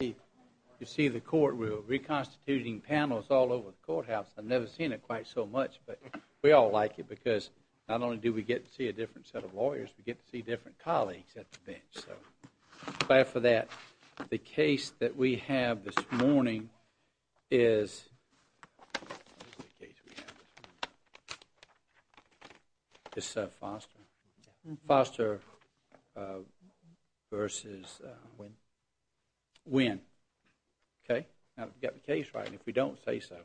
You see the court rule, reconstituting panels all over the courthouse. I've never seen it quite so much, but we all like it because not only do we get to see a different set of lawyers, we get to see different colleagues at the bench. So I'm glad for that. The case that we have this morning is Foster v. Wynne. Okay? Now we've got the case right, and if we don't say so,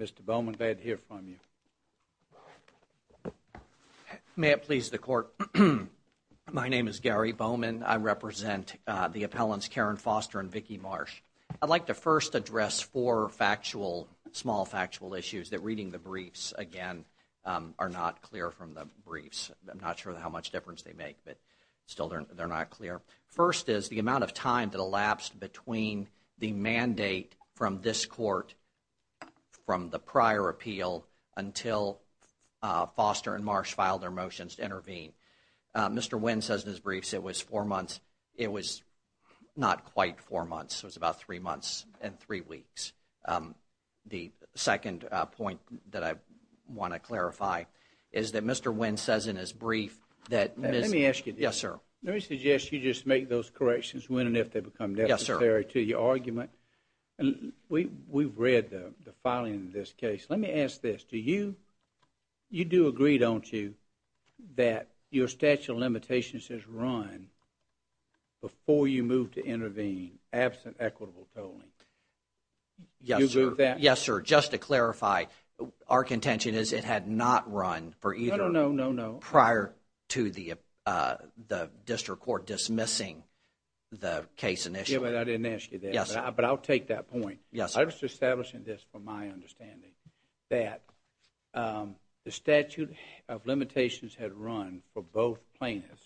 Mr. Bowman, glad to hear from you. Gary Bowman May it please the court, my name is Gary Bowman. I represent the appellants Karen Foster and Vicki Marsh. I'd like to first address four factual, small factual issues that reading the briefs, again, are not clear from the briefs. I'm not sure how much difference they make, but still they're not clear. First is the amount of time that elapsed between the mandate from this court from the prior appeal until Foster and Marsh filed their motions to intervene. Mr. Wynne says in his briefs it was four months. It was not quite four months. It was about three months and three weeks. The second point that I want to clarify is that Mr. Wynne says in his brief that Ms. Let me suggest you just make those corrections when and if they become necessary to your argument. We've read the filing of this case. Let me ask this. Do you, you do agree, don't you, that your statute of limitations has run before you moved to intervene absent equitable tolling? Yes, sir. Yes, sir. Just to clarify, our contention is it had not run for either. No, no, no, no. Prior to the, uh, the district court dismissing the case initially. I didn't ask you that, but I'll take that point. Yes. I was establishing this from my understanding that, um, the statute of limitations had run for both plaintiffs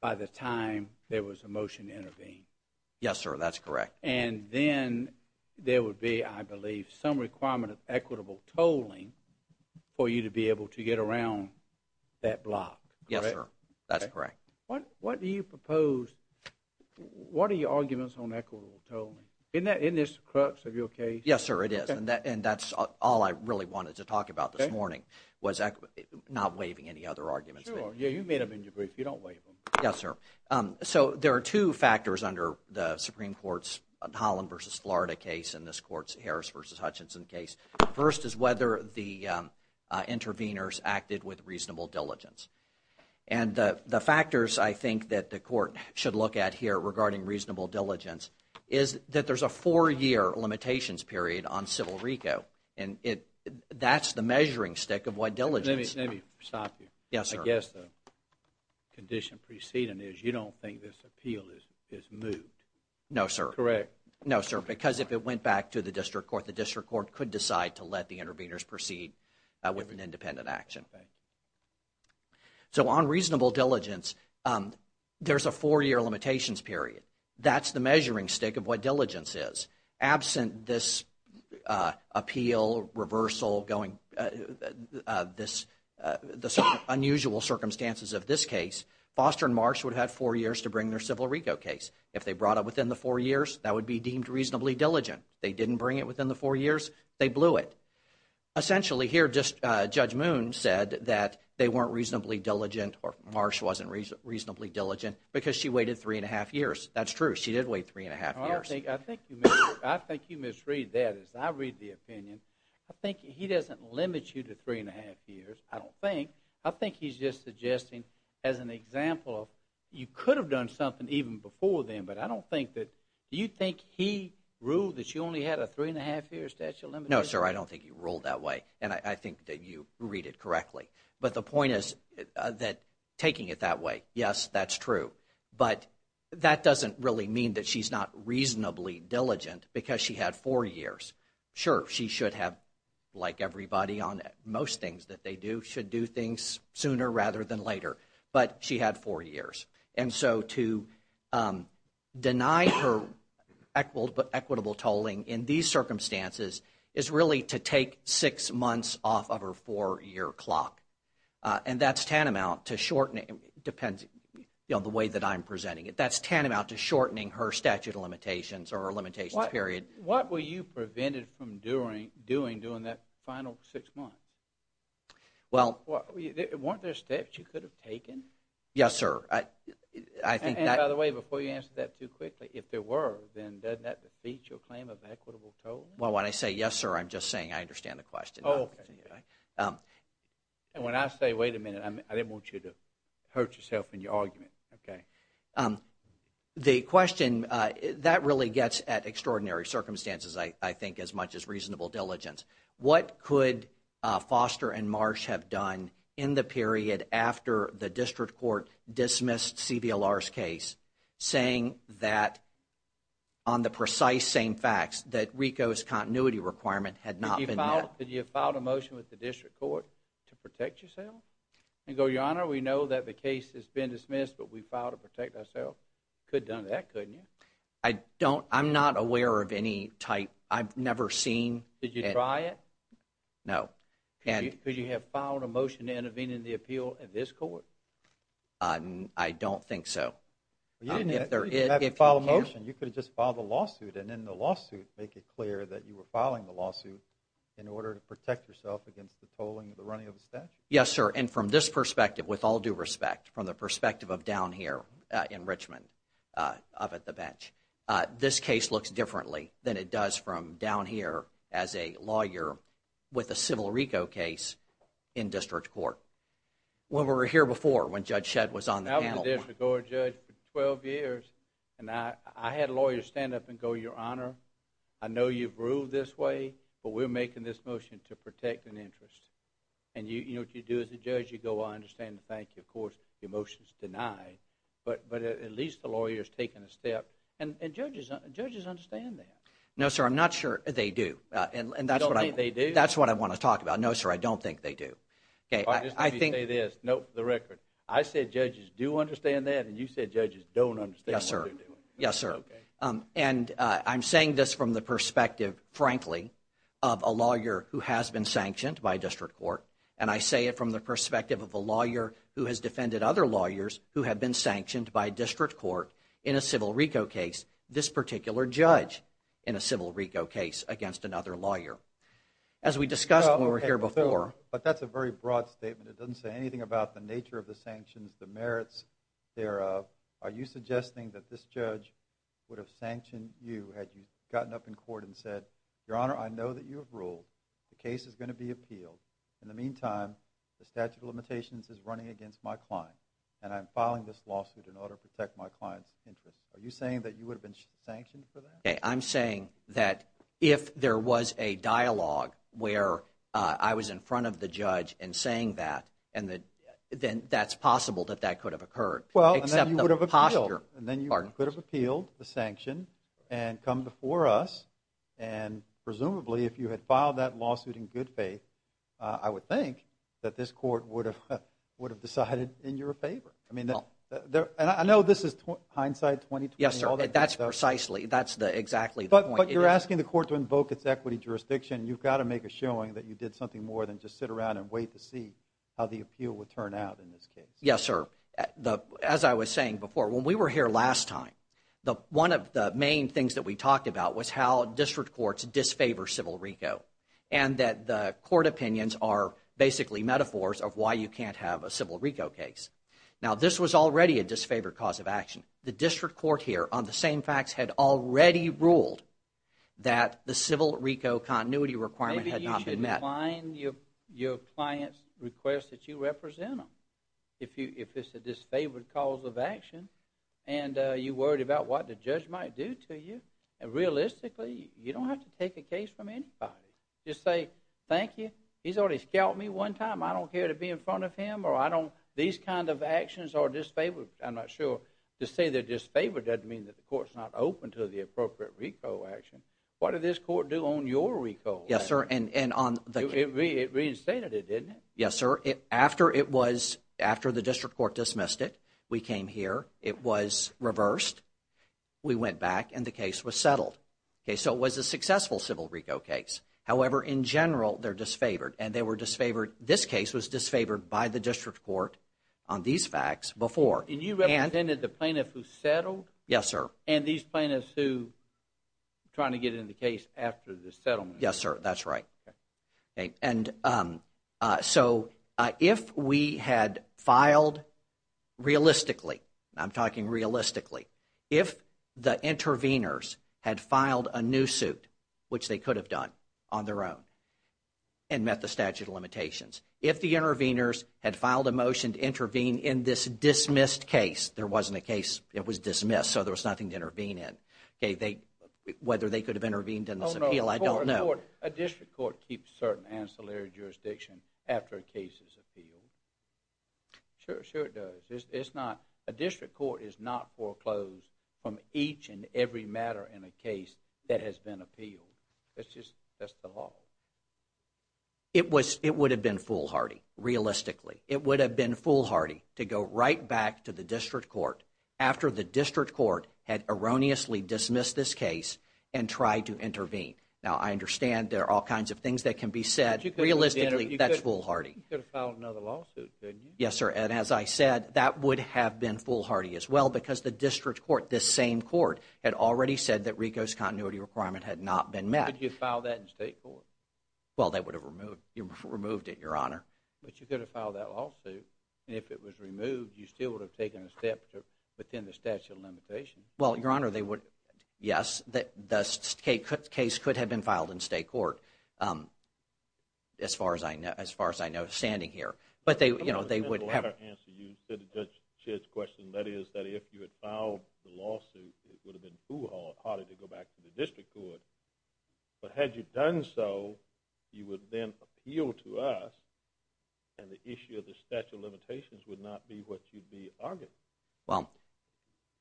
by the time there was a motion to intervene. Yes, sir. That's correct. And then there would be, I believe, some requirement of equitable tolling for you to be able to get around that block. Yes, sir. That's correct. What, what do you propose, what are your arguments on equitable tolling? Isn't that, isn't this the crux of your case? Yes, sir. It is. And that, and that's all I really wanted to talk about this morning was not waiving any other arguments. Sure. Yeah, you made them in your brief. You don't waive them. Yes, sir. Um, so there are two factors under the Supreme Court's Holland v. Florida case and this court's Harris v. Hutchinson case. First is whether the, um, uh, intervenors acted with reasonable diligence. And, uh, the factors I think that the court should look at here regarding reasonable diligence is that there's a four-year limitations period on civil RICO. And it, that's the measuring stick of what diligence. Let me, let me stop you. Yes, sir. I guess the condition preceding is you don't think this appeal is, is moved. No, sir. Correct. No, sir. Because if it went back to the district court, the district court could decide to let the intervenors proceed, uh, with an independent action. Okay. So on reasonable diligence, um, there's a four-year limitations period. That's the measuring stick of what diligence is. Absent this, uh, appeal, reversal, going, uh, uh, this, uh, the sort of unusual circumstances of this case, Foster and Marsh would have had four years to bring their civil RICO case. If they brought it within the four years, that would be deemed reasonably diligent. They didn't bring it within the four years, they blew it. Essentially here, just, uh, Judge Moon said that they weren't reasonably diligent or Marsh wasn't reasonably diligent because she waited three and a half years. That's true. She did wait three and a half years. I think you misread that. As I read the opinion, I think he doesn't limit you to three and a half years. I don't think. I think he's just suggesting as an example of you could have done something even before then. But I don't think that, do you think he ruled that you only had a three and a half year statute of limitations? I don't think he ruled that way. And I think that you read it correctly. But the point is that taking it that way, yes, that's true. But that doesn't really mean that she's not reasonably diligent because she had four years. Sure, she should have, like everybody on most things that they do, should do things sooner rather than later. But she had four years. And so to deny her equitable tolling in these circumstances is really to take six months off of her four year clock. And that's tantamount to shortening, depends on the way that I'm presenting it, that's tantamount to shortening her statute of limitations or her limitations period. What were you prevented from doing during that final six months? Well. Weren't there steps you could have taken? Yes, sir. I think that. And by the way, before you answer that too quickly, if there were, then doesn't that defeat your claim of equitable tolling? Well, when I say yes, sir, I'm just saying I understand the question. Oh, okay. And when I say wait a minute, I didn't want you to hurt yourself in your argument, okay? The question, that really gets at extraordinary circumstances, I think, as much as reasonable diligence. What could Foster and Marsh have done in the period after the district court dismissed CBLR's case saying that on the precise same facts that RICO's continuity requirement had not been met? Did you file a motion with the district court to protect yourself? And go, Your Honor, we know that the case has been dismissed, but we filed to protect ourselves. Could have done that, couldn't you? I don't. I'm not aware of any type. I've never seen. Did you try it? No. Could you have filed a motion to intervene in the appeal at this court? I don't think so. You didn't have to file a motion. You could have just filed a lawsuit and in the lawsuit make it clear that you were filing the lawsuit in order to protect yourself against the tolling of the running of the statute. Yes, sir. And from this perspective, with all due respect, from the perspective of down here in Richmond, up at the bench, this case looks differently than it does from down here as a lawyer with a civil RICO case in district court. When we were here before, when Judge Shedd was on the panel. I was a district court judge for 12 years, and I had lawyers stand up and go, Your Honor, I know you've ruled this way, but we're making this motion to protect an interest. And what you do as a judge, you go, I understand and thank you. Of course, your motion is denied. But at least the lawyer has taken a step, and judges understand that. No, sir, I'm not sure they do. You don't think they do? That's what I want to talk about. No, sir, I don't think they do. I'll just let you say this. Note for the record. I said judges do understand that, and you said judges don't understand what they're doing. Yes, sir. And I'm saying this from the perspective, frankly, of a lawyer who has been sanctioned by district court. And I say it from the perspective of a lawyer who has defended other lawyers who have been sanctioned by district court in a civil RICO case, this particular judge in a civil RICO case against another lawyer. As we discussed when we were here before. But that's a very broad statement. It doesn't say anything about the nature of the sanctions, the merits thereof. Are you suggesting that this judge would have sanctioned you had you gotten up in court and said, Your Honor, I know that you have ruled. The case is going to be appealed. In the meantime, the statute of limitations is running against my client, and I'm filing this lawsuit in order to protect my client's interest. Are you saying that you would have been sanctioned for that? I'm saying that if there was a dialogue where I was in front of the judge and saying that, then that's possible that that could have occurred. Well, except the posture. And then you could have appealed the sanction and come before us. And presumably, if you had filed that lawsuit in good faith, I would think that this court would have would have decided in your favor. I mean, I know this is hindsight. Yes, sir. That's precisely that's the exactly. But you're asking the court to invoke its equity jurisdiction. You've got to make a showing that you did something more than just sit around and wait to see how the appeal would turn out in this case. Yes, sir. As I was saying before, when we were here last time, one of the main things that we talked about was how district courts disfavor civil RICO, and that the court opinions are basically metaphors of why you can't have a civil RICO case. Now, this was already a disfavored cause of action. The district court here on the same facts had already ruled that the civil RICO continuity requirement had not been met. Your client's request that you represent them. If it's a disfavored cause of action and you're worried about what the judge might do to you, realistically, you don't have to take a case from anybody. Just say, thank you. He's already scalped me one time. I don't care to be in front of him or I don't. These kind of actions are disfavored. I'm not sure. To say they're disfavored doesn't mean that the court's not open to the appropriate RICO action. What did this court do on your RICO? Yes, sir. It reinstated it, didn't it? Yes, sir. After the district court dismissed it, we came here. It was reversed. We went back, and the case was settled. Okay, so it was a successful civil RICO case. However, in general, they're disfavored, and they were disfavored. This case was disfavored by the district court on these facts before. And you represented the plaintiff who settled? Yes, sir. And these plaintiffs who are trying to get in the case after the settlement? Yes, sir. That's right. And so if we had filed realistically, I'm talking realistically, if the intervenors had filed a new suit, which they could have done on their own and met the statute of limitations, if the intervenors had filed a motion to intervene in this dismissed case, there wasn't a case, it was dismissed, so there was nothing to intervene in. Whether they could have intervened in this appeal, I don't know. A district court keeps certain ancillary jurisdiction after a case is appealed. Sure, sure it does. A district court is not foreclosed from each and every matter in a case that has been appealed. That's just the law. It would have been foolhardy, realistically. It would have been foolhardy to go right back to the district court after the district court had erroneously dismissed this case and tried to intervene. Now, I understand there are all kinds of things that can be said. Realistically, that's foolhardy. You could have filed another lawsuit, couldn't you? Yes, sir. And as I said, that would have been foolhardy as well because the district court, this same court, had already said that RICO's continuity requirement had not been met. Could you have filed that in state court? Well, they would have removed it, Your Honor. But you could have filed that lawsuit, and if it was removed, you still would have taken a step within the statute of limitations. Well, Your Honor, they would, yes. The case could have been filed in state court as far as I know standing here. But, you know, they would have. To answer Judge Chedd's question, that is, that if you had filed the lawsuit, it would have been foolhardy to go back to the district court. But had you done so, you would then appeal to us, and the issue of the statute of limitations would not be what you'd be arguing. Well,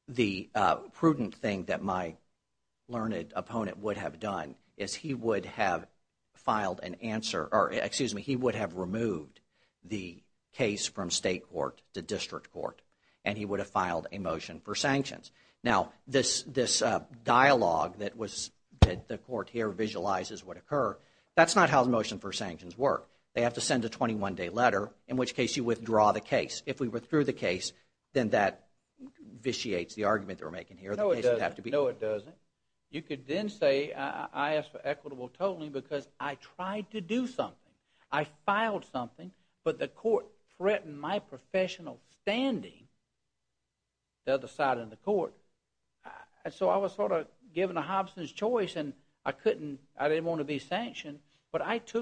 the prudent thing that my learned opponent would have done is he would have filed an answer, or excuse me, he would have removed the case from state court to district court, and he would have filed a motion for sanctions. Now, this dialogue that the court here visualizes would occur, that's not how the motion for sanctions work. They have to send a 21-day letter, in which case you withdraw the case. If we withdraw the case, then that vitiates the argument that we're making here. No, it doesn't. No, it doesn't. You could then say I asked for equitable totaling because I tried to do something. I filed something, but the court threatened my professional standing, the other side of the court. And so I was sort of given a Hobson's Choice, and I didn't want to be sanctioned, Don't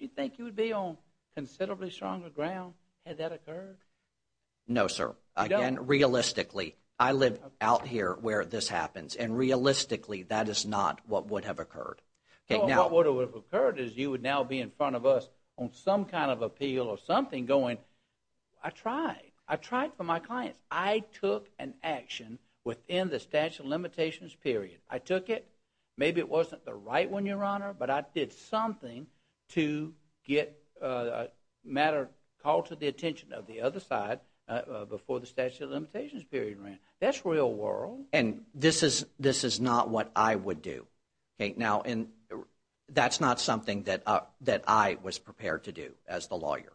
you think you would be on considerably stronger ground had that occurred? No, sir. Again, realistically, I live out here where this happens, and realistically that is not what would have occurred. Well, what would have occurred is you would now be in front of us on some kind of appeal or something going, I tried. I tried for my clients. I took an action within the statute of limitations period. I took it. Maybe it wasn't the right one, Your Honor, but I did something to get a matter called to the attention of the other side before the statute of limitations period ran. That's real world. And this is not what I would do. Now, that's not something that I was prepared to do as the lawyer.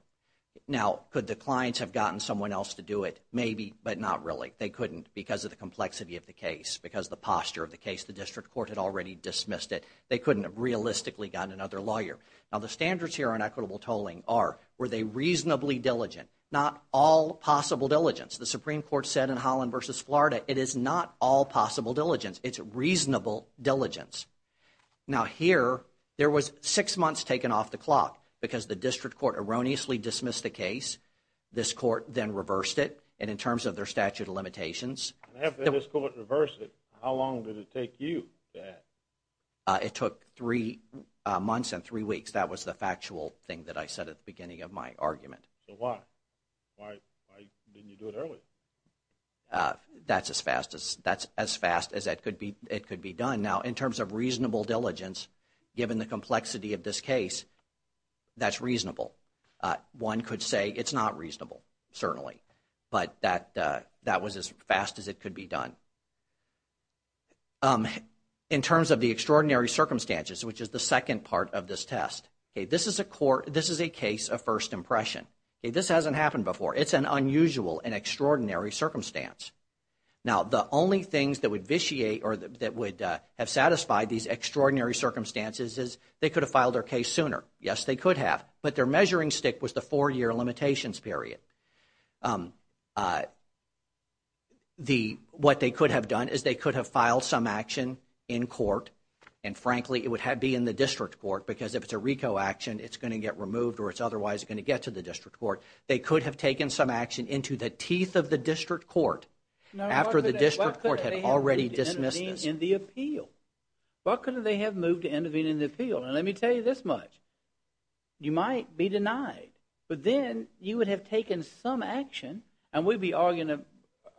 Now, could the clients have gotten someone else to do it? Maybe, but not really. They couldn't because of the complexity of the case, because of the posture of the case. The district court had already dismissed it. They couldn't have realistically gotten another lawyer. Now, the standards here on equitable tolling are, were they reasonably diligent? Not all possible diligence. The Supreme Court said in Holland v. Florida, it is not all possible diligence. It's reasonable diligence. Now, here, there was six months taken off the clock because the district court erroneously dismissed the case. This court then reversed it, and in terms of their statute of limitations. After this court reversed it, how long did it take you to add? It took three months and three weeks. That was the factual thing that I said at the beginning of my argument. So why? Why didn't you do it earlier? That's as fast as it could be done. Now, in terms of reasonable diligence, given the complexity of this case, that's reasonable. One could say it's not reasonable, certainly, but that was as fast as it could be done. In terms of the extraordinary circumstances, which is the second part of this test, this is a case of first impression. This hasn't happened before. It's an unusual and extraordinary circumstance. Now, the only things that would vitiate or that would have satisfied these extraordinary circumstances is they could have filed their case sooner. Yes, they could have, but their measuring stick was the four-year limitations period. What they could have done is they could have filed some action in court, and frankly, it would be in the district court, because if it's a RICO action, it's going to get removed or it's otherwise going to get to the district court. They could have taken some action into the teeth of the district court after the district court had already dismissed this. Why couldn't they have moved to intervene in the appeal? Why couldn't they have moved to intervene in the appeal? Now, let me tell you this much. You might be denied, but then you would have taken some action, and we'd be arguing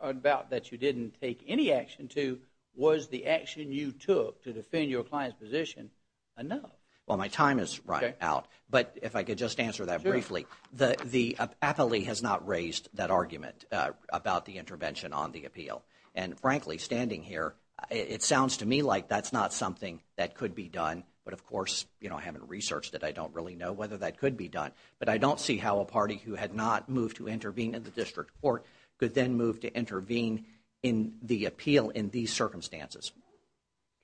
about that you didn't take any action to, was the action you took to defend your client's position enough? Well, my time is running out, but if I could just answer that briefly. The appellee has not raised that argument about the intervention on the appeal, and frankly, standing here, it sounds to me like that's not something that could be done, but of course, I haven't researched it. I don't really know whether that could be done, but I don't see how a party who had not moved to intervene in the district court could then move to intervene in the appeal in these circumstances.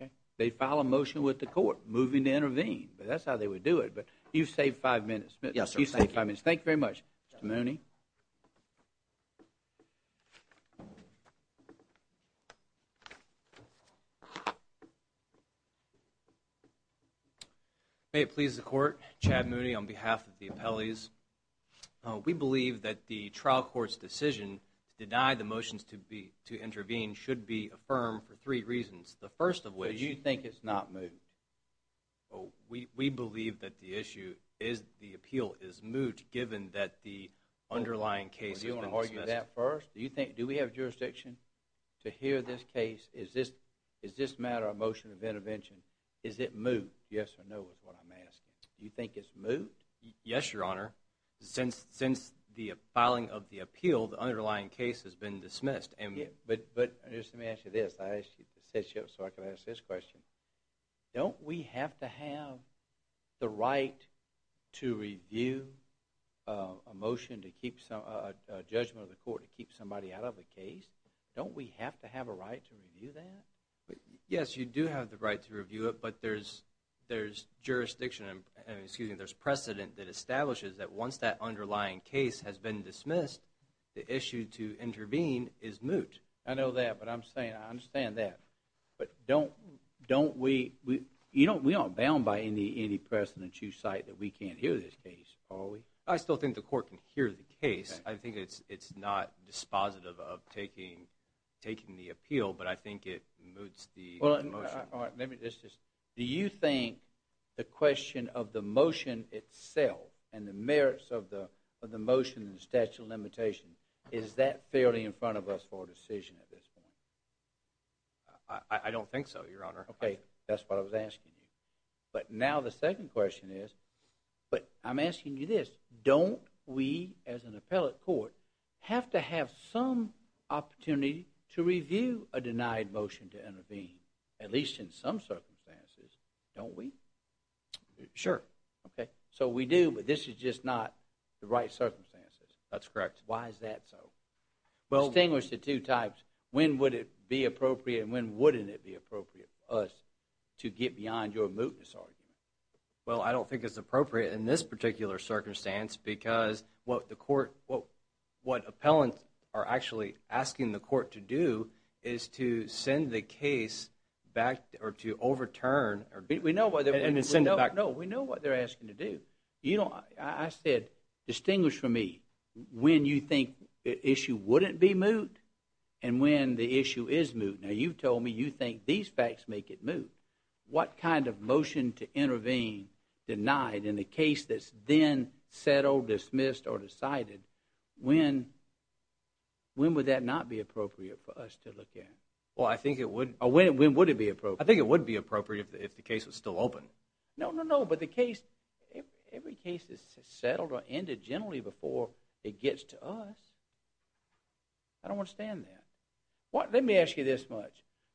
Okay. They'd file a motion with the court moving to intervene, but that's how they would do it. But you've saved five minutes. Yes, sir. You've saved five minutes. Thank you very much. Mr. Mooney? May it please the Court, I'm Chad Mooney on behalf of the appellees. We believe that the trial court's decision to deny the motions to intervene should be affirmed for three reasons. The first of which So you think it's not moved? We believe that the appeal is moved given that the underlying case has been dismissed. Do you want to argue that first? Do we have jurisdiction to hear this case? Is this matter a motion of intervention? Is it moved? Yes or no is what I'm asking. Do you think it's moved? Yes, Your Honor. Since the filing of the appeal, the underlying case has been dismissed. But let me ask you this. I asked you to set you up so I could ask this question. Don't we have to have the right to review a motion, a judgment of the court to keep somebody out of a case? Don't we have to have a right to review that? Yes, you do have the right to review it, but there's precedent that establishes that once that underlying case has been dismissed, the issue to intervene is moot. I know that, but I understand that. But we aren't bound by any precedent you cite that we can't hear this case, are we? I still think the court can hear the case. I think it's not dispositive of taking the appeal, but I think it moots the motion. Do you think the question of the motion itself and the merits of the motion and the statute of limitations, is that fairly in front of us for a decision at this point? I don't think so, Your Honor. Okay, that's what I was asking you. But now the second question is, but I'm asking you this, don't we as an appellate court have to have some opportunity to review a denied motion to intervene, at least in some circumstances, don't we? Sure. So we do, but this is just not the right circumstances. That's correct. Why is that so? Distinguish the two types. When would it be appropriate and when wouldn't it be appropriate for us to get beyond your mootness argument? Well, I don't think it's appropriate in this particular circumstance because what appellants are actually asking the court to do is to send the case back or to overturn. No, we know what they're asking to do. I said, distinguish for me when you think the issue wouldn't be moot and when the issue is moot. Now you've told me you think these facts make it moot. What kind of motion to intervene denied in a case that's then settled, dismissed, or decided, when would that not be appropriate for us to look at? Well, I think it would. When would it be appropriate? I think it would be appropriate if the case was still open. No, no, no, but every case is settled or ended generally before it gets to us. I don't understand that. Let me ask you this much.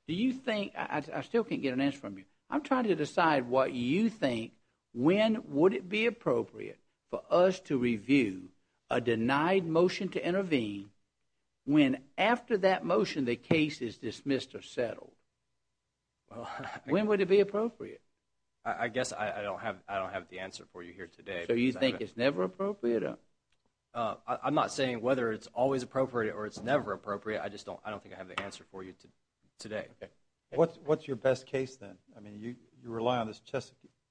I still can't get an answer from you. I'm trying to decide what you think, when would it be appropriate for us to review a denied motion to intervene when after that motion the case is dismissed or settled? When would it be appropriate? I guess I don't have the answer for you here today. So you think it's never appropriate? I'm not saying whether it's always appropriate or it's never appropriate. I just don't think I have the answer for you today. What's your best case then? I mean, you rely on this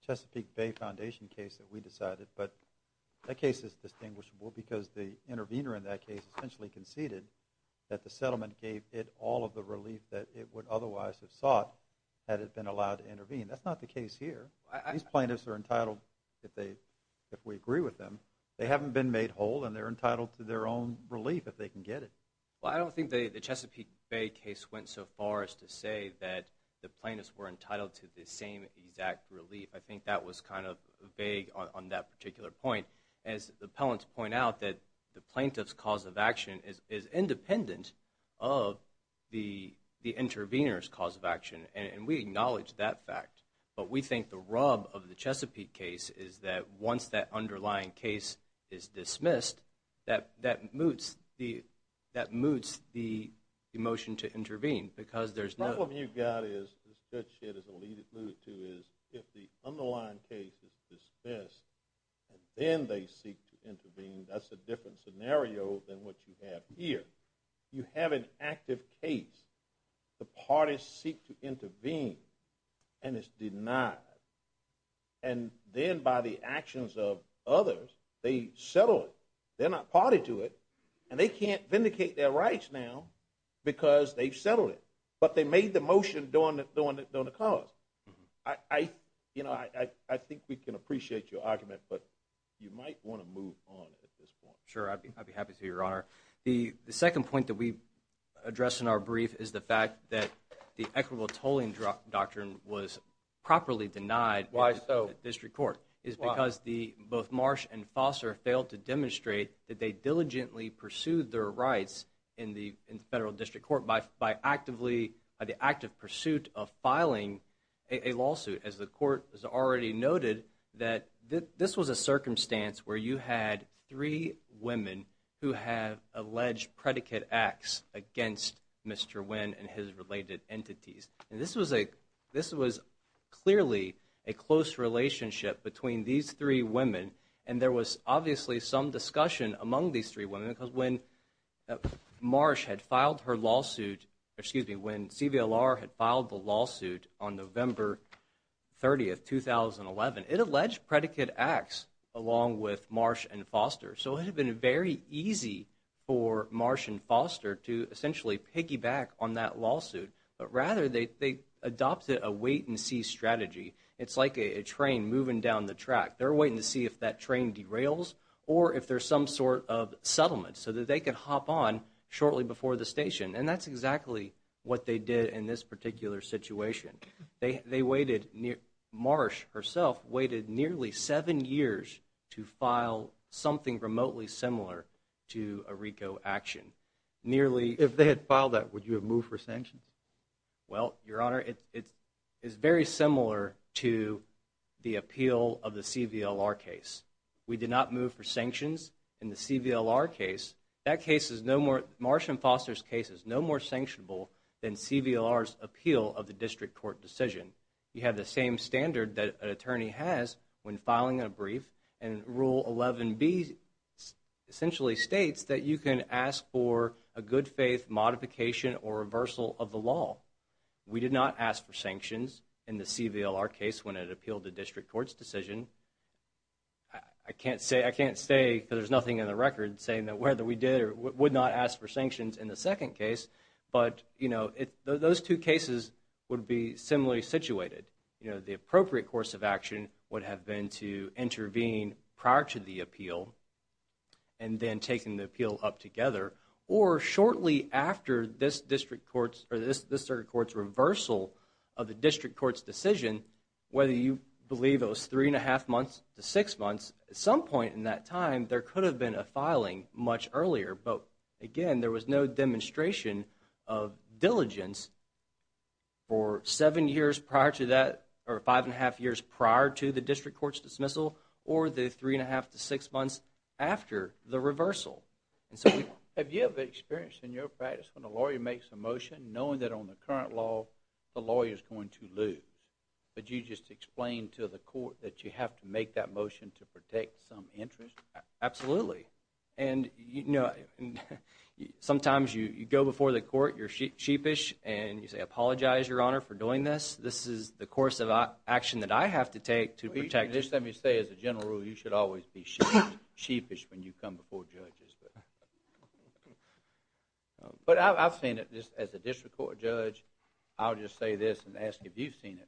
Chesapeake Bay Foundation case that we decided, but that case is distinguishable because the intervener in that case essentially conceded that the settlement gave it all of the relief that it would otherwise have sought had it been allowed to intervene. That's not the case here. These plaintiffs are entitled, if we agree with them, they haven't been made whole, and they're entitled to their own relief if they can get it. Well, I don't think the Chesapeake Bay case went so far as to say that the plaintiffs were entitled to the same exact relief. I think that was kind of vague on that particular point. As the appellants point out, the plaintiff's cause of action is independent of the intervener's cause of action, and we acknowledge that fact. But we think the rub of the Chesapeake case is that once that underlying case is dismissed, that moots the motion to intervene because there's no... The problem you've got is, as Judge Shedd has alluded to, is if the underlying case is dismissed and then they seek to intervene, that's a different scenario than what you have here. You have an active case. The parties seek to intervene, and it's denied. And then by the actions of others, they settle it. They're not party to it, and they can't vindicate their rights now because they've settled it. But they made the motion during the cause. I think we can appreciate your argument, but you might want to move on at this point. Sure, I'd be happy to, Your Honor. The second point that we address in our brief is the fact that the equitable tolling doctrine was properly denied in the district court. Why so? It's because both Marsh and Foster failed to demonstrate that they diligently pursued their rights in the federal district court by the active pursuit of filing a lawsuit. As the Court has already noted, this was a circumstance where you had three women who had alleged predicate acts against Mr. Nguyen and his related entities. And this was clearly a close relationship between these three women, and there was obviously some discussion among these three women because when Marsh had filed her lawsuit, excuse me, when CVLR had filed the lawsuit on November 30, 2011, it alleged predicate acts along with Marsh and Foster. So it had been very easy for Marsh and Foster to essentially piggyback on that lawsuit, but rather they adopted a wait-and-see strategy. It's like a train moving down the track. They're waiting to see if that train derails or if there's some sort of settlement so that they can hop on shortly before the station, and that's exactly what they did in this particular situation. They waited near... Marsh herself waited nearly seven years to file something remotely similar to a RICO action. Nearly... If they had filed that, would you have moved for sanctions? Well, Your Honor, it's very similar to the appeal of the CVLR case. We did not move for sanctions in the CVLR case. That case is no more... Marsh and Foster's case is no more sanctionable than CVLR's appeal of the district court decision. You have the same standard that an attorney has when filing a brief, and Rule 11B essentially states that you can ask for a good-faith modification or reversal of the law. We did not ask for sanctions in the CVLR case when it appealed the district court's decision. I can't say... I can't say, because there's nothing in the record, saying that whether we did or would not ask for sanctions in the second case, but, you know, those two cases would be similarly situated. You know, the appropriate course of action would have been to intervene prior to the appeal and then taking the appeal up together, or shortly after this district court's... or this district court's reversal of the district court's decision, whether you believe it was 3 1⁄2 months to 6 months, at some point in that time, there could have been a filing much earlier, but, again, there was no demonstration of diligence for 7 years prior to that, or 5 1⁄2 years prior to the district court's dismissal, or the 3 1⁄2 to 6 months after the reversal. And so we... Have you ever experienced in your practice when a lawyer makes a motion, knowing that on the current law, the lawyer's going to lose, but you just explain to the court that you have to make that motion to protect some interest? Absolutely. And, you know, sometimes you go before the court, you're sheepish, and you say, apologize, Your Honor, for doing this. This is the course of action that I have to take to protect... Just let me say, as a general rule, you should always be sheepish when you come before judges. But I've seen it. As a district court judge, I'll just say this and ask if you've seen it.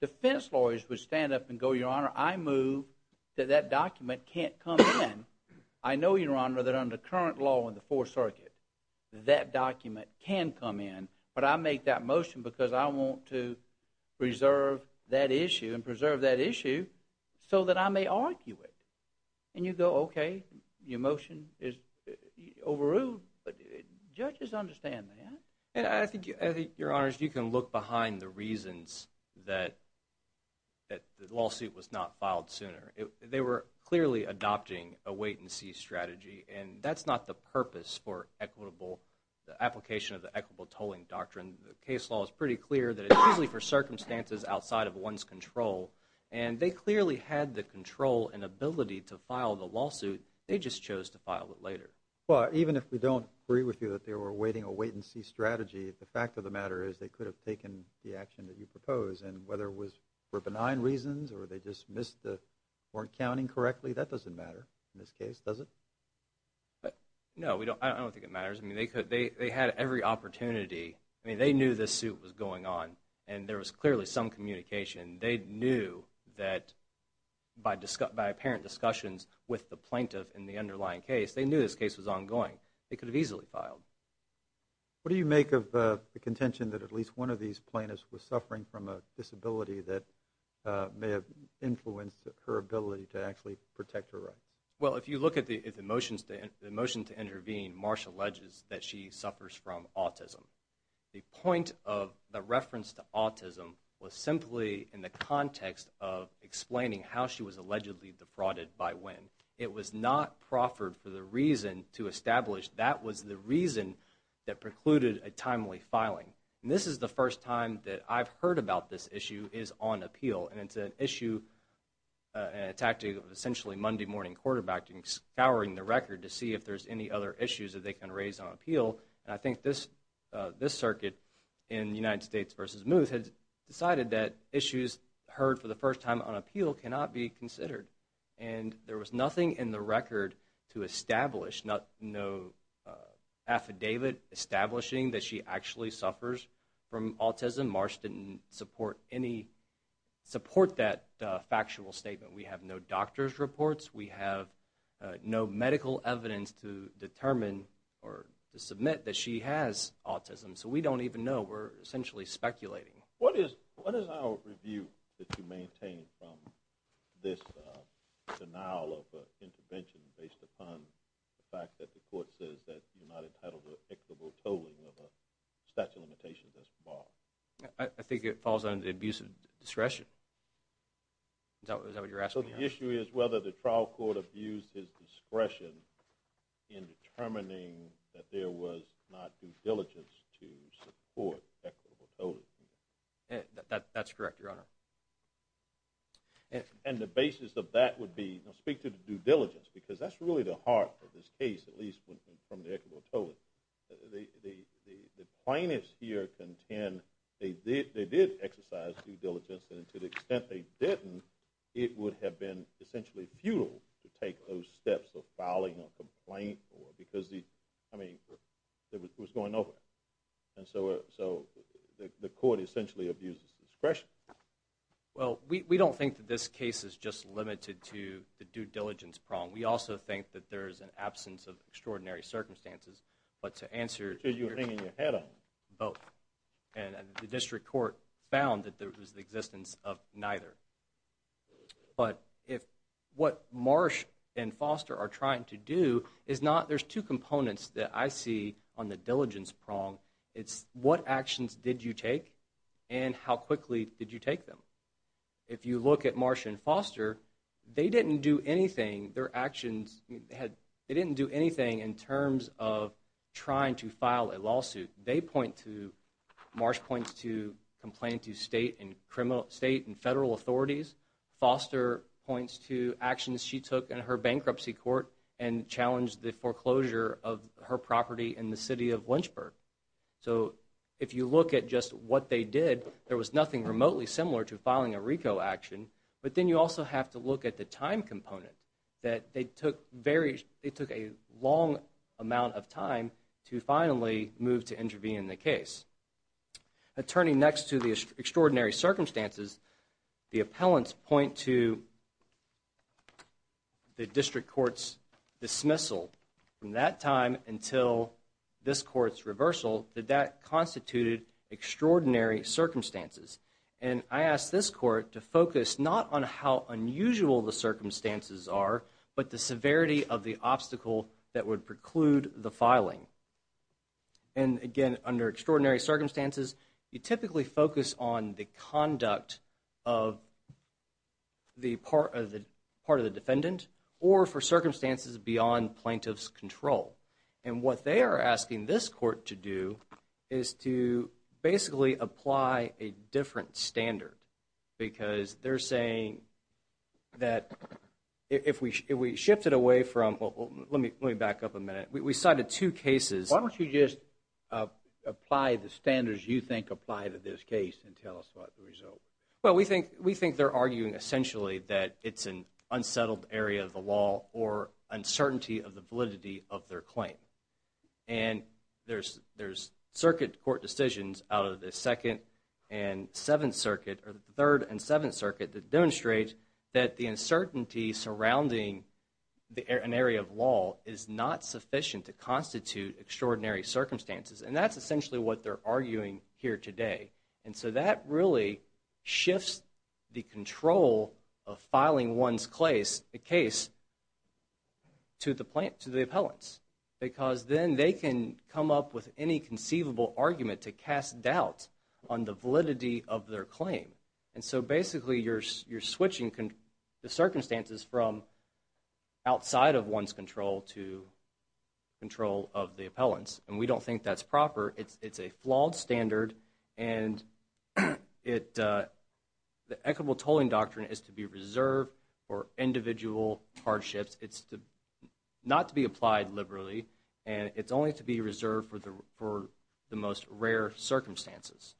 Defense lawyers would stand up and go, Your Honor, I move that that document can't come in. I know, Your Honor, that under current law in the Fourth Circuit, that document can come in, but I make that motion because I want to preserve that issue and preserve that issue so that I may argue it. And you go, okay, the motion is overruled, but judges understand that. And I think, Your Honor, you can look behind the reasons that the lawsuit was not filed sooner. They were clearly adopting a wait-and-see strategy, and that's not the purpose for the application of the equitable tolling doctrine. The case law is pretty clear that it's usually for circumstances outside of one's control, and they clearly had the control and ability to file the lawsuit. They just chose to file it later. Well, even if we don't agree with you that they were awaiting a wait-and-see strategy, the fact of the matter is they could have taken the action that you propose, and whether it was for benign reasons or they just weren't counting correctly, that doesn't matter in this case, does it? No, I don't think it matters. They had every opportunity. I mean, they knew this suit was going on, and there was clearly some communication. They knew that by apparent discussions with the plaintiff in the underlying case, they knew this case was ongoing. They could have easily filed. What do you make of the contention that at least one of these plaintiffs was suffering from a disability that may have influenced her ability to actually protect her rights? Well, if you look at the motion to intervene, Marsha alleges that she suffers from autism. The point of the reference to autism was simply in the context of explaining how she was allegedly defrauded by when. It was not proffered for the reason to establish that was the reason that precluded a timely filing. And this is the first time that I've heard about this issue is on appeal, and it's an issue and a tactic of essentially Monday-morning quarterbacking, scouring the record to see if there's any other issues that they can raise on appeal, and I think this circuit in United States v. Muth has decided that issues heard for the first time on appeal cannot be considered, and there was nothing in the record to establish, no affidavit establishing that she actually suffers from autism. Marsha didn't support that factual statement. We have no doctor's reports. We have no medical evidence to determine or to submit that she has autism, so we don't even know. We're essentially speculating. What is our review that you maintain from this denial of intervention based upon the fact that the court says that you're not entitled to equitable tolling of a statute of limitations that's barred? I think it falls under the abuse of discretion. Is that what you're asking? So the issue is whether the trial court abused his discretion in determining that there was not due diligence to support equitable tolling. That's correct, Your Honor. And the basis of that would be speak to the due diligence because that's really the heart of this case, at least from the equitable tolling. The plaintiffs here contend they did exercise due diligence, and to the extent they didn't, it would have been essentially futile to take those steps of filing a complaint because, I mean, it was going over. And so the court essentially abuses discretion. Well, we don't think that this case is just limited to the due diligence problem. We also think that there is an absence of extraordinary circumstances, but to answer... So you're hanging your head on it. Both, and the district court found that there was the existence of neither. But what Marsh and Foster are trying to do is not... There's two components that I see on the diligence prong. It's what actions did you take and how quickly did you take them. If you look at Marsh and Foster, they didn't do anything. Their actions... They didn't do anything in terms of trying to file a lawsuit. They point to... Foster points to actions she took in her bankruptcy court and challenged the foreclosure of her property in the city of Lynchburg. So if you look at just what they did, there was nothing remotely similar to filing a RICO action. But then you also have to look at the time component, that they took a long amount of time to finally move to intervene in the case. Turning next to the extraordinary circumstances, the appellants point to the district court's dismissal. From that time until this court's reversal, that that constituted extraordinary circumstances. And I ask this court to focus not on how unusual the circumstances are, but the severity of the obstacle that would preclude the filing. And again, under extraordinary circumstances, you typically focus on the conduct of the part of the defendant or for circumstances beyond plaintiff's control. And what they are asking this court to do is to basically apply a different standard. Because they're saying that if we shift it away from... Let me back up a minute. We cited two cases. Why don't you just apply the standards you think apply to this case and tell us about the result? Well, we think they're arguing essentially that it's an unsettled area of the law or uncertainty of the validity of their claim. And there's circuit court decisions out of the 2nd and 7th Circuit, or the 3rd and 7th Circuit, that demonstrate that the uncertainty surrounding an area of law is not sufficient to constitute extraordinary circumstances. And that's essentially what they're arguing here today. And so that really shifts the control of filing one's case to the appellants. Because then they can come up with any conceivable argument to cast doubt on the validity of their claim. And so basically you're switching the circumstances from outside of one's control to control of the appellants. And we don't think that's proper. It's a flawed standard, and the equitable tolling doctrine is to be reserved for individual hardships. It's not to be applied liberally, and it's only to be reserved for the most rare circumstances.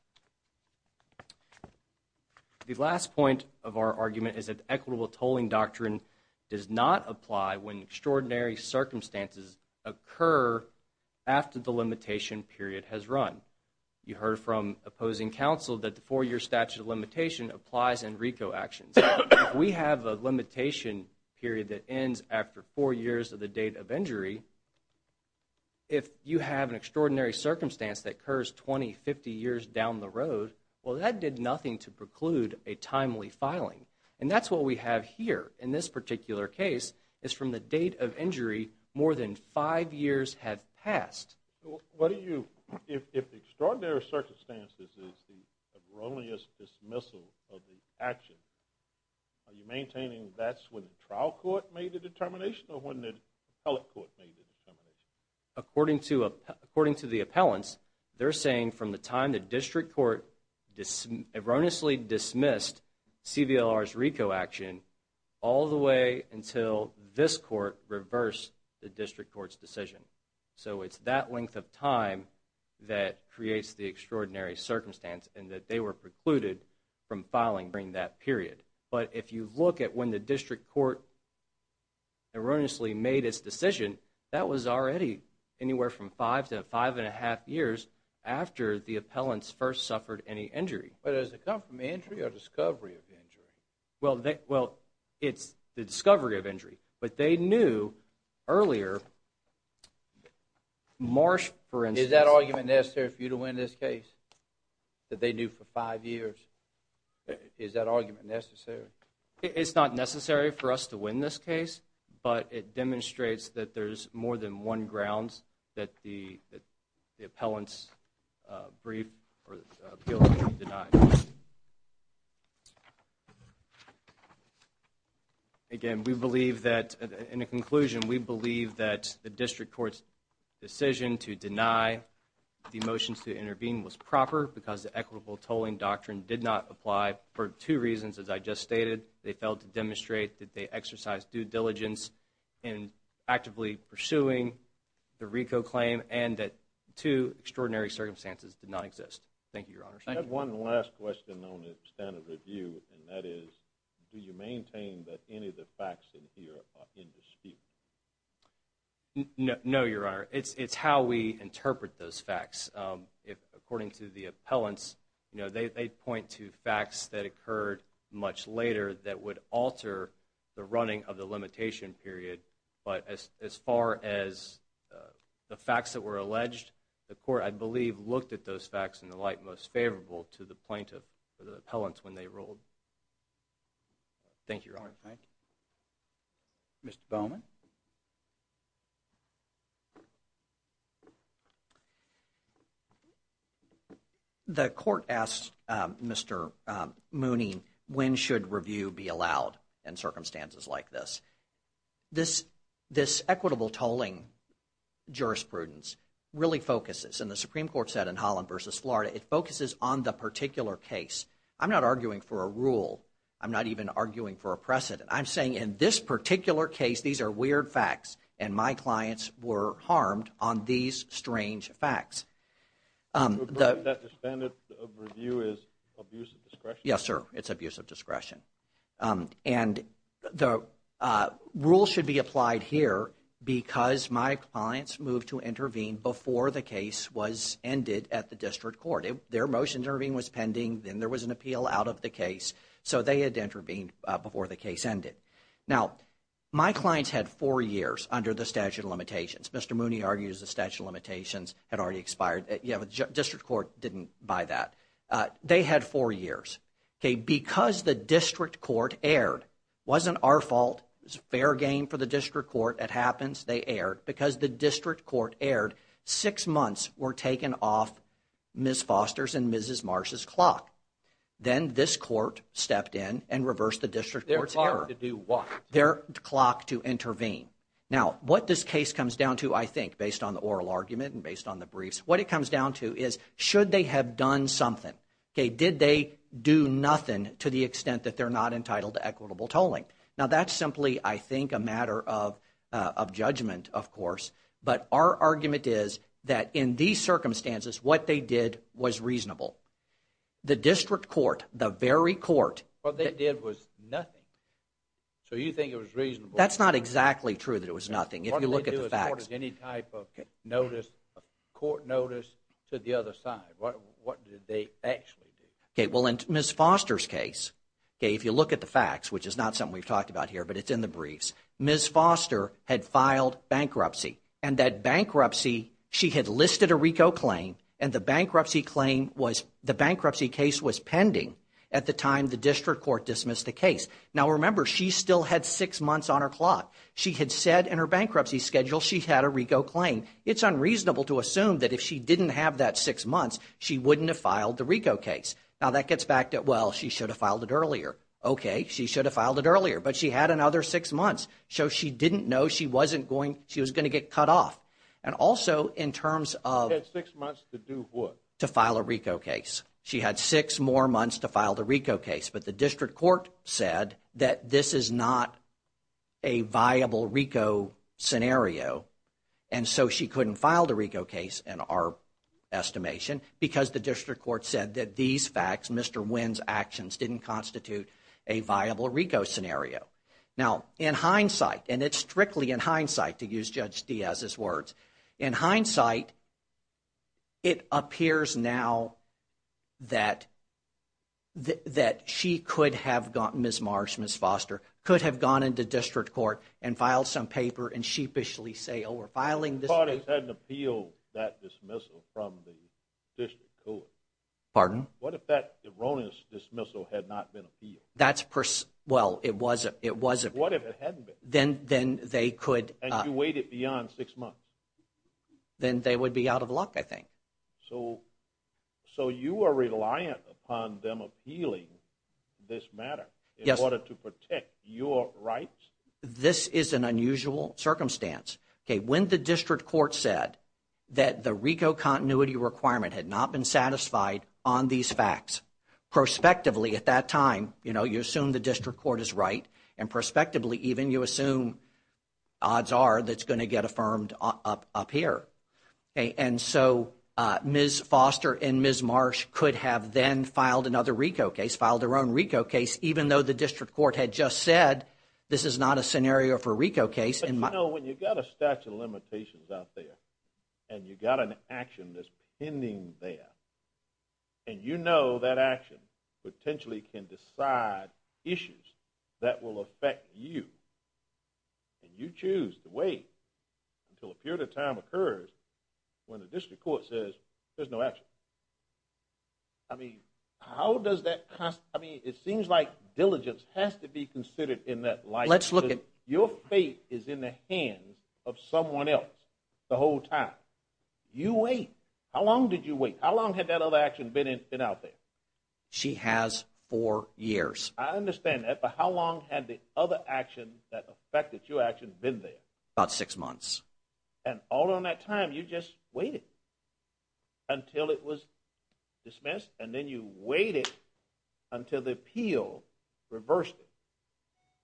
The last point of our argument is that the equitable tolling doctrine does not apply when extraordinary circumstances occur after the limitation period has run. You heard from opposing counsel that the 4-year statute of limitation applies in RICO actions. If we have a limitation period that ends after 4 years of the date of injury, if you have an extraordinary circumstance that occurs 20, 50 years down the road, well, that did nothing to preclude a timely filing. And that's what we have here in this particular case is from the date of injury more than 5 years have passed. What do you, if extraordinary circumstances is the erroneous dismissal of the action, are you maintaining that's when the trial court made the determination or when the appellate court made the determination? According to the appellants, they're saying from the time the district court erroneously dismissed CBLR's RICO action all the way until this court reversed the district court's decision. So it's that length of time that creates the extraordinary circumstance and that they were precluded from filing during that period. But if you look at when the district court erroneously made its decision, that was already anywhere from 5 to 5 1⁄2 years after the appellants first suffered any injury. But does it come from injury or discovery of injury? Well, it's the discovery of injury, but they knew earlier Marsh, for instance. Is that argument necessary for you to win this case that they knew for 5 years? Is that argument necessary? It's not necessary for us to win this case, but it demonstrates that there's more than one grounds that the appellant's brief or appeal can be denied. Again, we believe that in a conclusion, we believe that the district court's decision to deny the motions to intervene was proper because the equitable tolling doctrine did not apply for two reasons, as I just stated. They failed to demonstrate that they exercised due diligence in actively pursuing the RICO claim and that two extraordinary circumstances did not exist. Thank you, Your Honor. I have one last question on the standard review, and that is do you maintain that any of the facts in here are in dispute? No, Your Honor. It's how we interpret those facts. According to the appellants, they point to facts that occurred much later that would alter the running of the limitation period. But as far as the facts that were alleged, the court, I believe, looked at those facts in the light most favorable to the plaintiff or the appellants when they ruled. Thank you, Your Honor. Thank you. Mr. Bowman? The court asked Mr. Mooney when should review be allowed in circumstances like this. This equitable tolling jurisprudence really focuses, and the Supreme Court said in Holland v. Florida, it focuses on the particular case. I'm not arguing for a rule. I'm not even arguing for a precedent. I'm saying in this particular case, these are weird facts, and my clients were harmed on these strange facts. The standard of review is abuse of discretion? Yes, sir. It's abuse of discretion. And the rule should be applied here because my clients moved to intervene before the case was ended at the district court. Their motion to intervene was pending. Then there was an appeal out of the case, so they had to intervene before the case ended. Now, my clients had four years under the statute of limitations. Mr. Mooney argues the statute of limitations had already expired. The district court didn't buy that. They had four years. Because the district court erred, wasn't our fault. It was a fair game for the district court. It happens. They erred because the district court erred. Six months were taken off Ms. Foster's and Mrs. Marsh's clock. Then this court stepped in and reversed the district court's error. Their clock to do what? Their clock to intervene. Now, what this case comes down to, I think, based on the oral argument and based on the briefs, what it comes down to is should they have done something? Did they do nothing to the extent that they're not entitled to equitable tolling? Now, that's simply, I think, a matter of judgment, of course. But our argument is that in these circumstances, what they did was reasonable. The district court, the very court. What they did was nothing. So you think it was reasonable? That's not exactly true that it was nothing. If you look at the facts. What did they do as part of any type of notice, court notice, to the other side? What did they actually do? Well, in Ms. Foster's case, if you look at the facts, which is not something we've talked about here, but it's in the briefs, Ms. Foster had filed bankruptcy. And that bankruptcy, she had listed a RICO claim, and the bankruptcy case was pending at the time the district court dismissed the case. Now, remember, she still had six months on her clock. She had said in her bankruptcy schedule she had a RICO claim. It's unreasonable to assume that if she didn't have that six months, she wouldn't have filed the RICO case. Now, that gets back to, well, she should have filed it earlier. Okay, she should have filed it earlier, but she had another six months. So she didn't know she was going to get cut off. She had six months to do what? To file a RICO case. She had six more months to file the RICO case, but the district court said that this is not a viable RICO scenario, and so she couldn't file the RICO case, in our estimation, because the district court said that these facts, Mr. Wynn's actions, didn't constitute a viable RICO scenario. Now, in hindsight, and it's strictly in hindsight to use Judge Diaz's words, in hindsight, it appears now that she could have gotten Ms. Marsh, Ms. Foster, could have gone into district court and filed some paper and sheepishly say, oh, we're filing this paper. The parties hadn't appealed that dismissal from the district court. Pardon? What if that erroneous dismissal had not been appealed? Well, it wasn't. What if it hadn't been? Then they could. And you waited beyond six months? Then they would be out of luck, I think. So you are reliant upon them appealing this matter in order to protect your rights? This is an unusual circumstance. When the district court said that the RICO continuity requirement had not been satisfied on these facts, prospectively at that time, you assume the district court is right, and prospectively even you assume odds are that it's going to get affirmed up here. And so Ms. Foster and Ms. Marsh could have then filed another RICO case, filed their own RICO case, even though the district court had just said this is not a scenario for a RICO case. When you've got a statute of limitations out there and you've got an action that's pending there, and you know that action potentially can decide issues that will affect you, and you choose to wait until a period of time occurs when the district court says there's no action. I mean, how does that cost? I mean, it seems like diligence has to be considered in that light. Your fate is in the hands of someone else the whole time. You wait. How long did you wait? How long had that other action been out there? She has four years. I understand that, but how long had the other action that affected your action been there? About six months. And all along that time you just waited until it was dismissed, and then you waited until the appeal reversed it.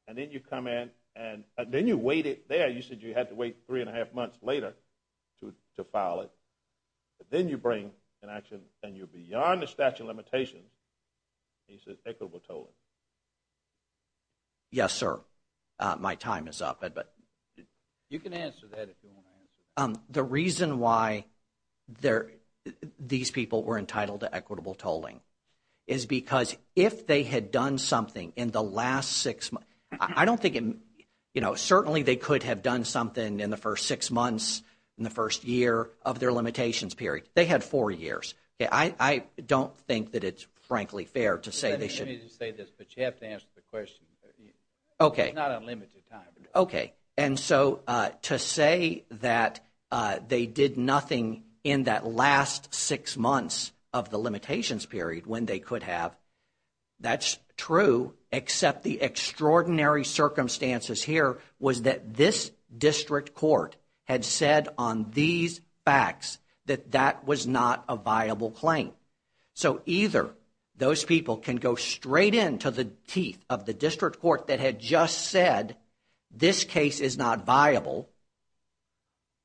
And then you come in and then you waited there. You said you had to wait three and a half months later to file it. But then you bring an action and you're beyond the statute of limitations, and you said equitable tolling. Yes, sir. My time is up. You can answer that if you want to answer that. The reason why these people were entitled to equitable tolling is because if they had done something in the last six months, certainly they could have done something in the first six months, in the first year of their limitations period. They had four years. I don't think that it's frankly fair to say they should. Let me just say this, but you have to answer the question. Okay. It's not unlimited time. Okay. And so to say that they did nothing in that last six months of the limitations period when they could have, that's true, except the extraordinary circumstances here was that this district court had said on these facts that that was not a viable claim. So either those people can go straight into the teeth of the district court that had just said this case is not viable,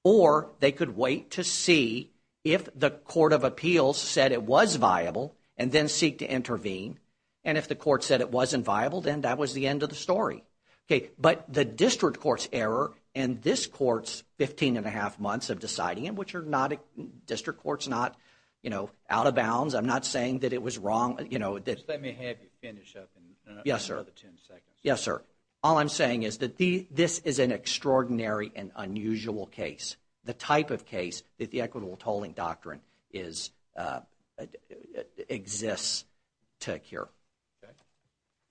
or they could wait to see if the court of appeals said it was viable and then seek to intervene, and if the court said it wasn't viable, then that was the end of the story. Okay. But the district court's error and this court's 15 and a half months of deciding it, which are not, district court's not out of bounds. I'm not saying that it was wrong. Just let me have you finish up in another 10 seconds. Yes, sir. All I'm saying is that this is an extraordinary and unusual case, the type of case that the equitable tolling doctrine exists to occur. Okay.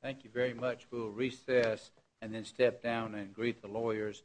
Thank you very much. We'll recess and then step down and greet the lawyers.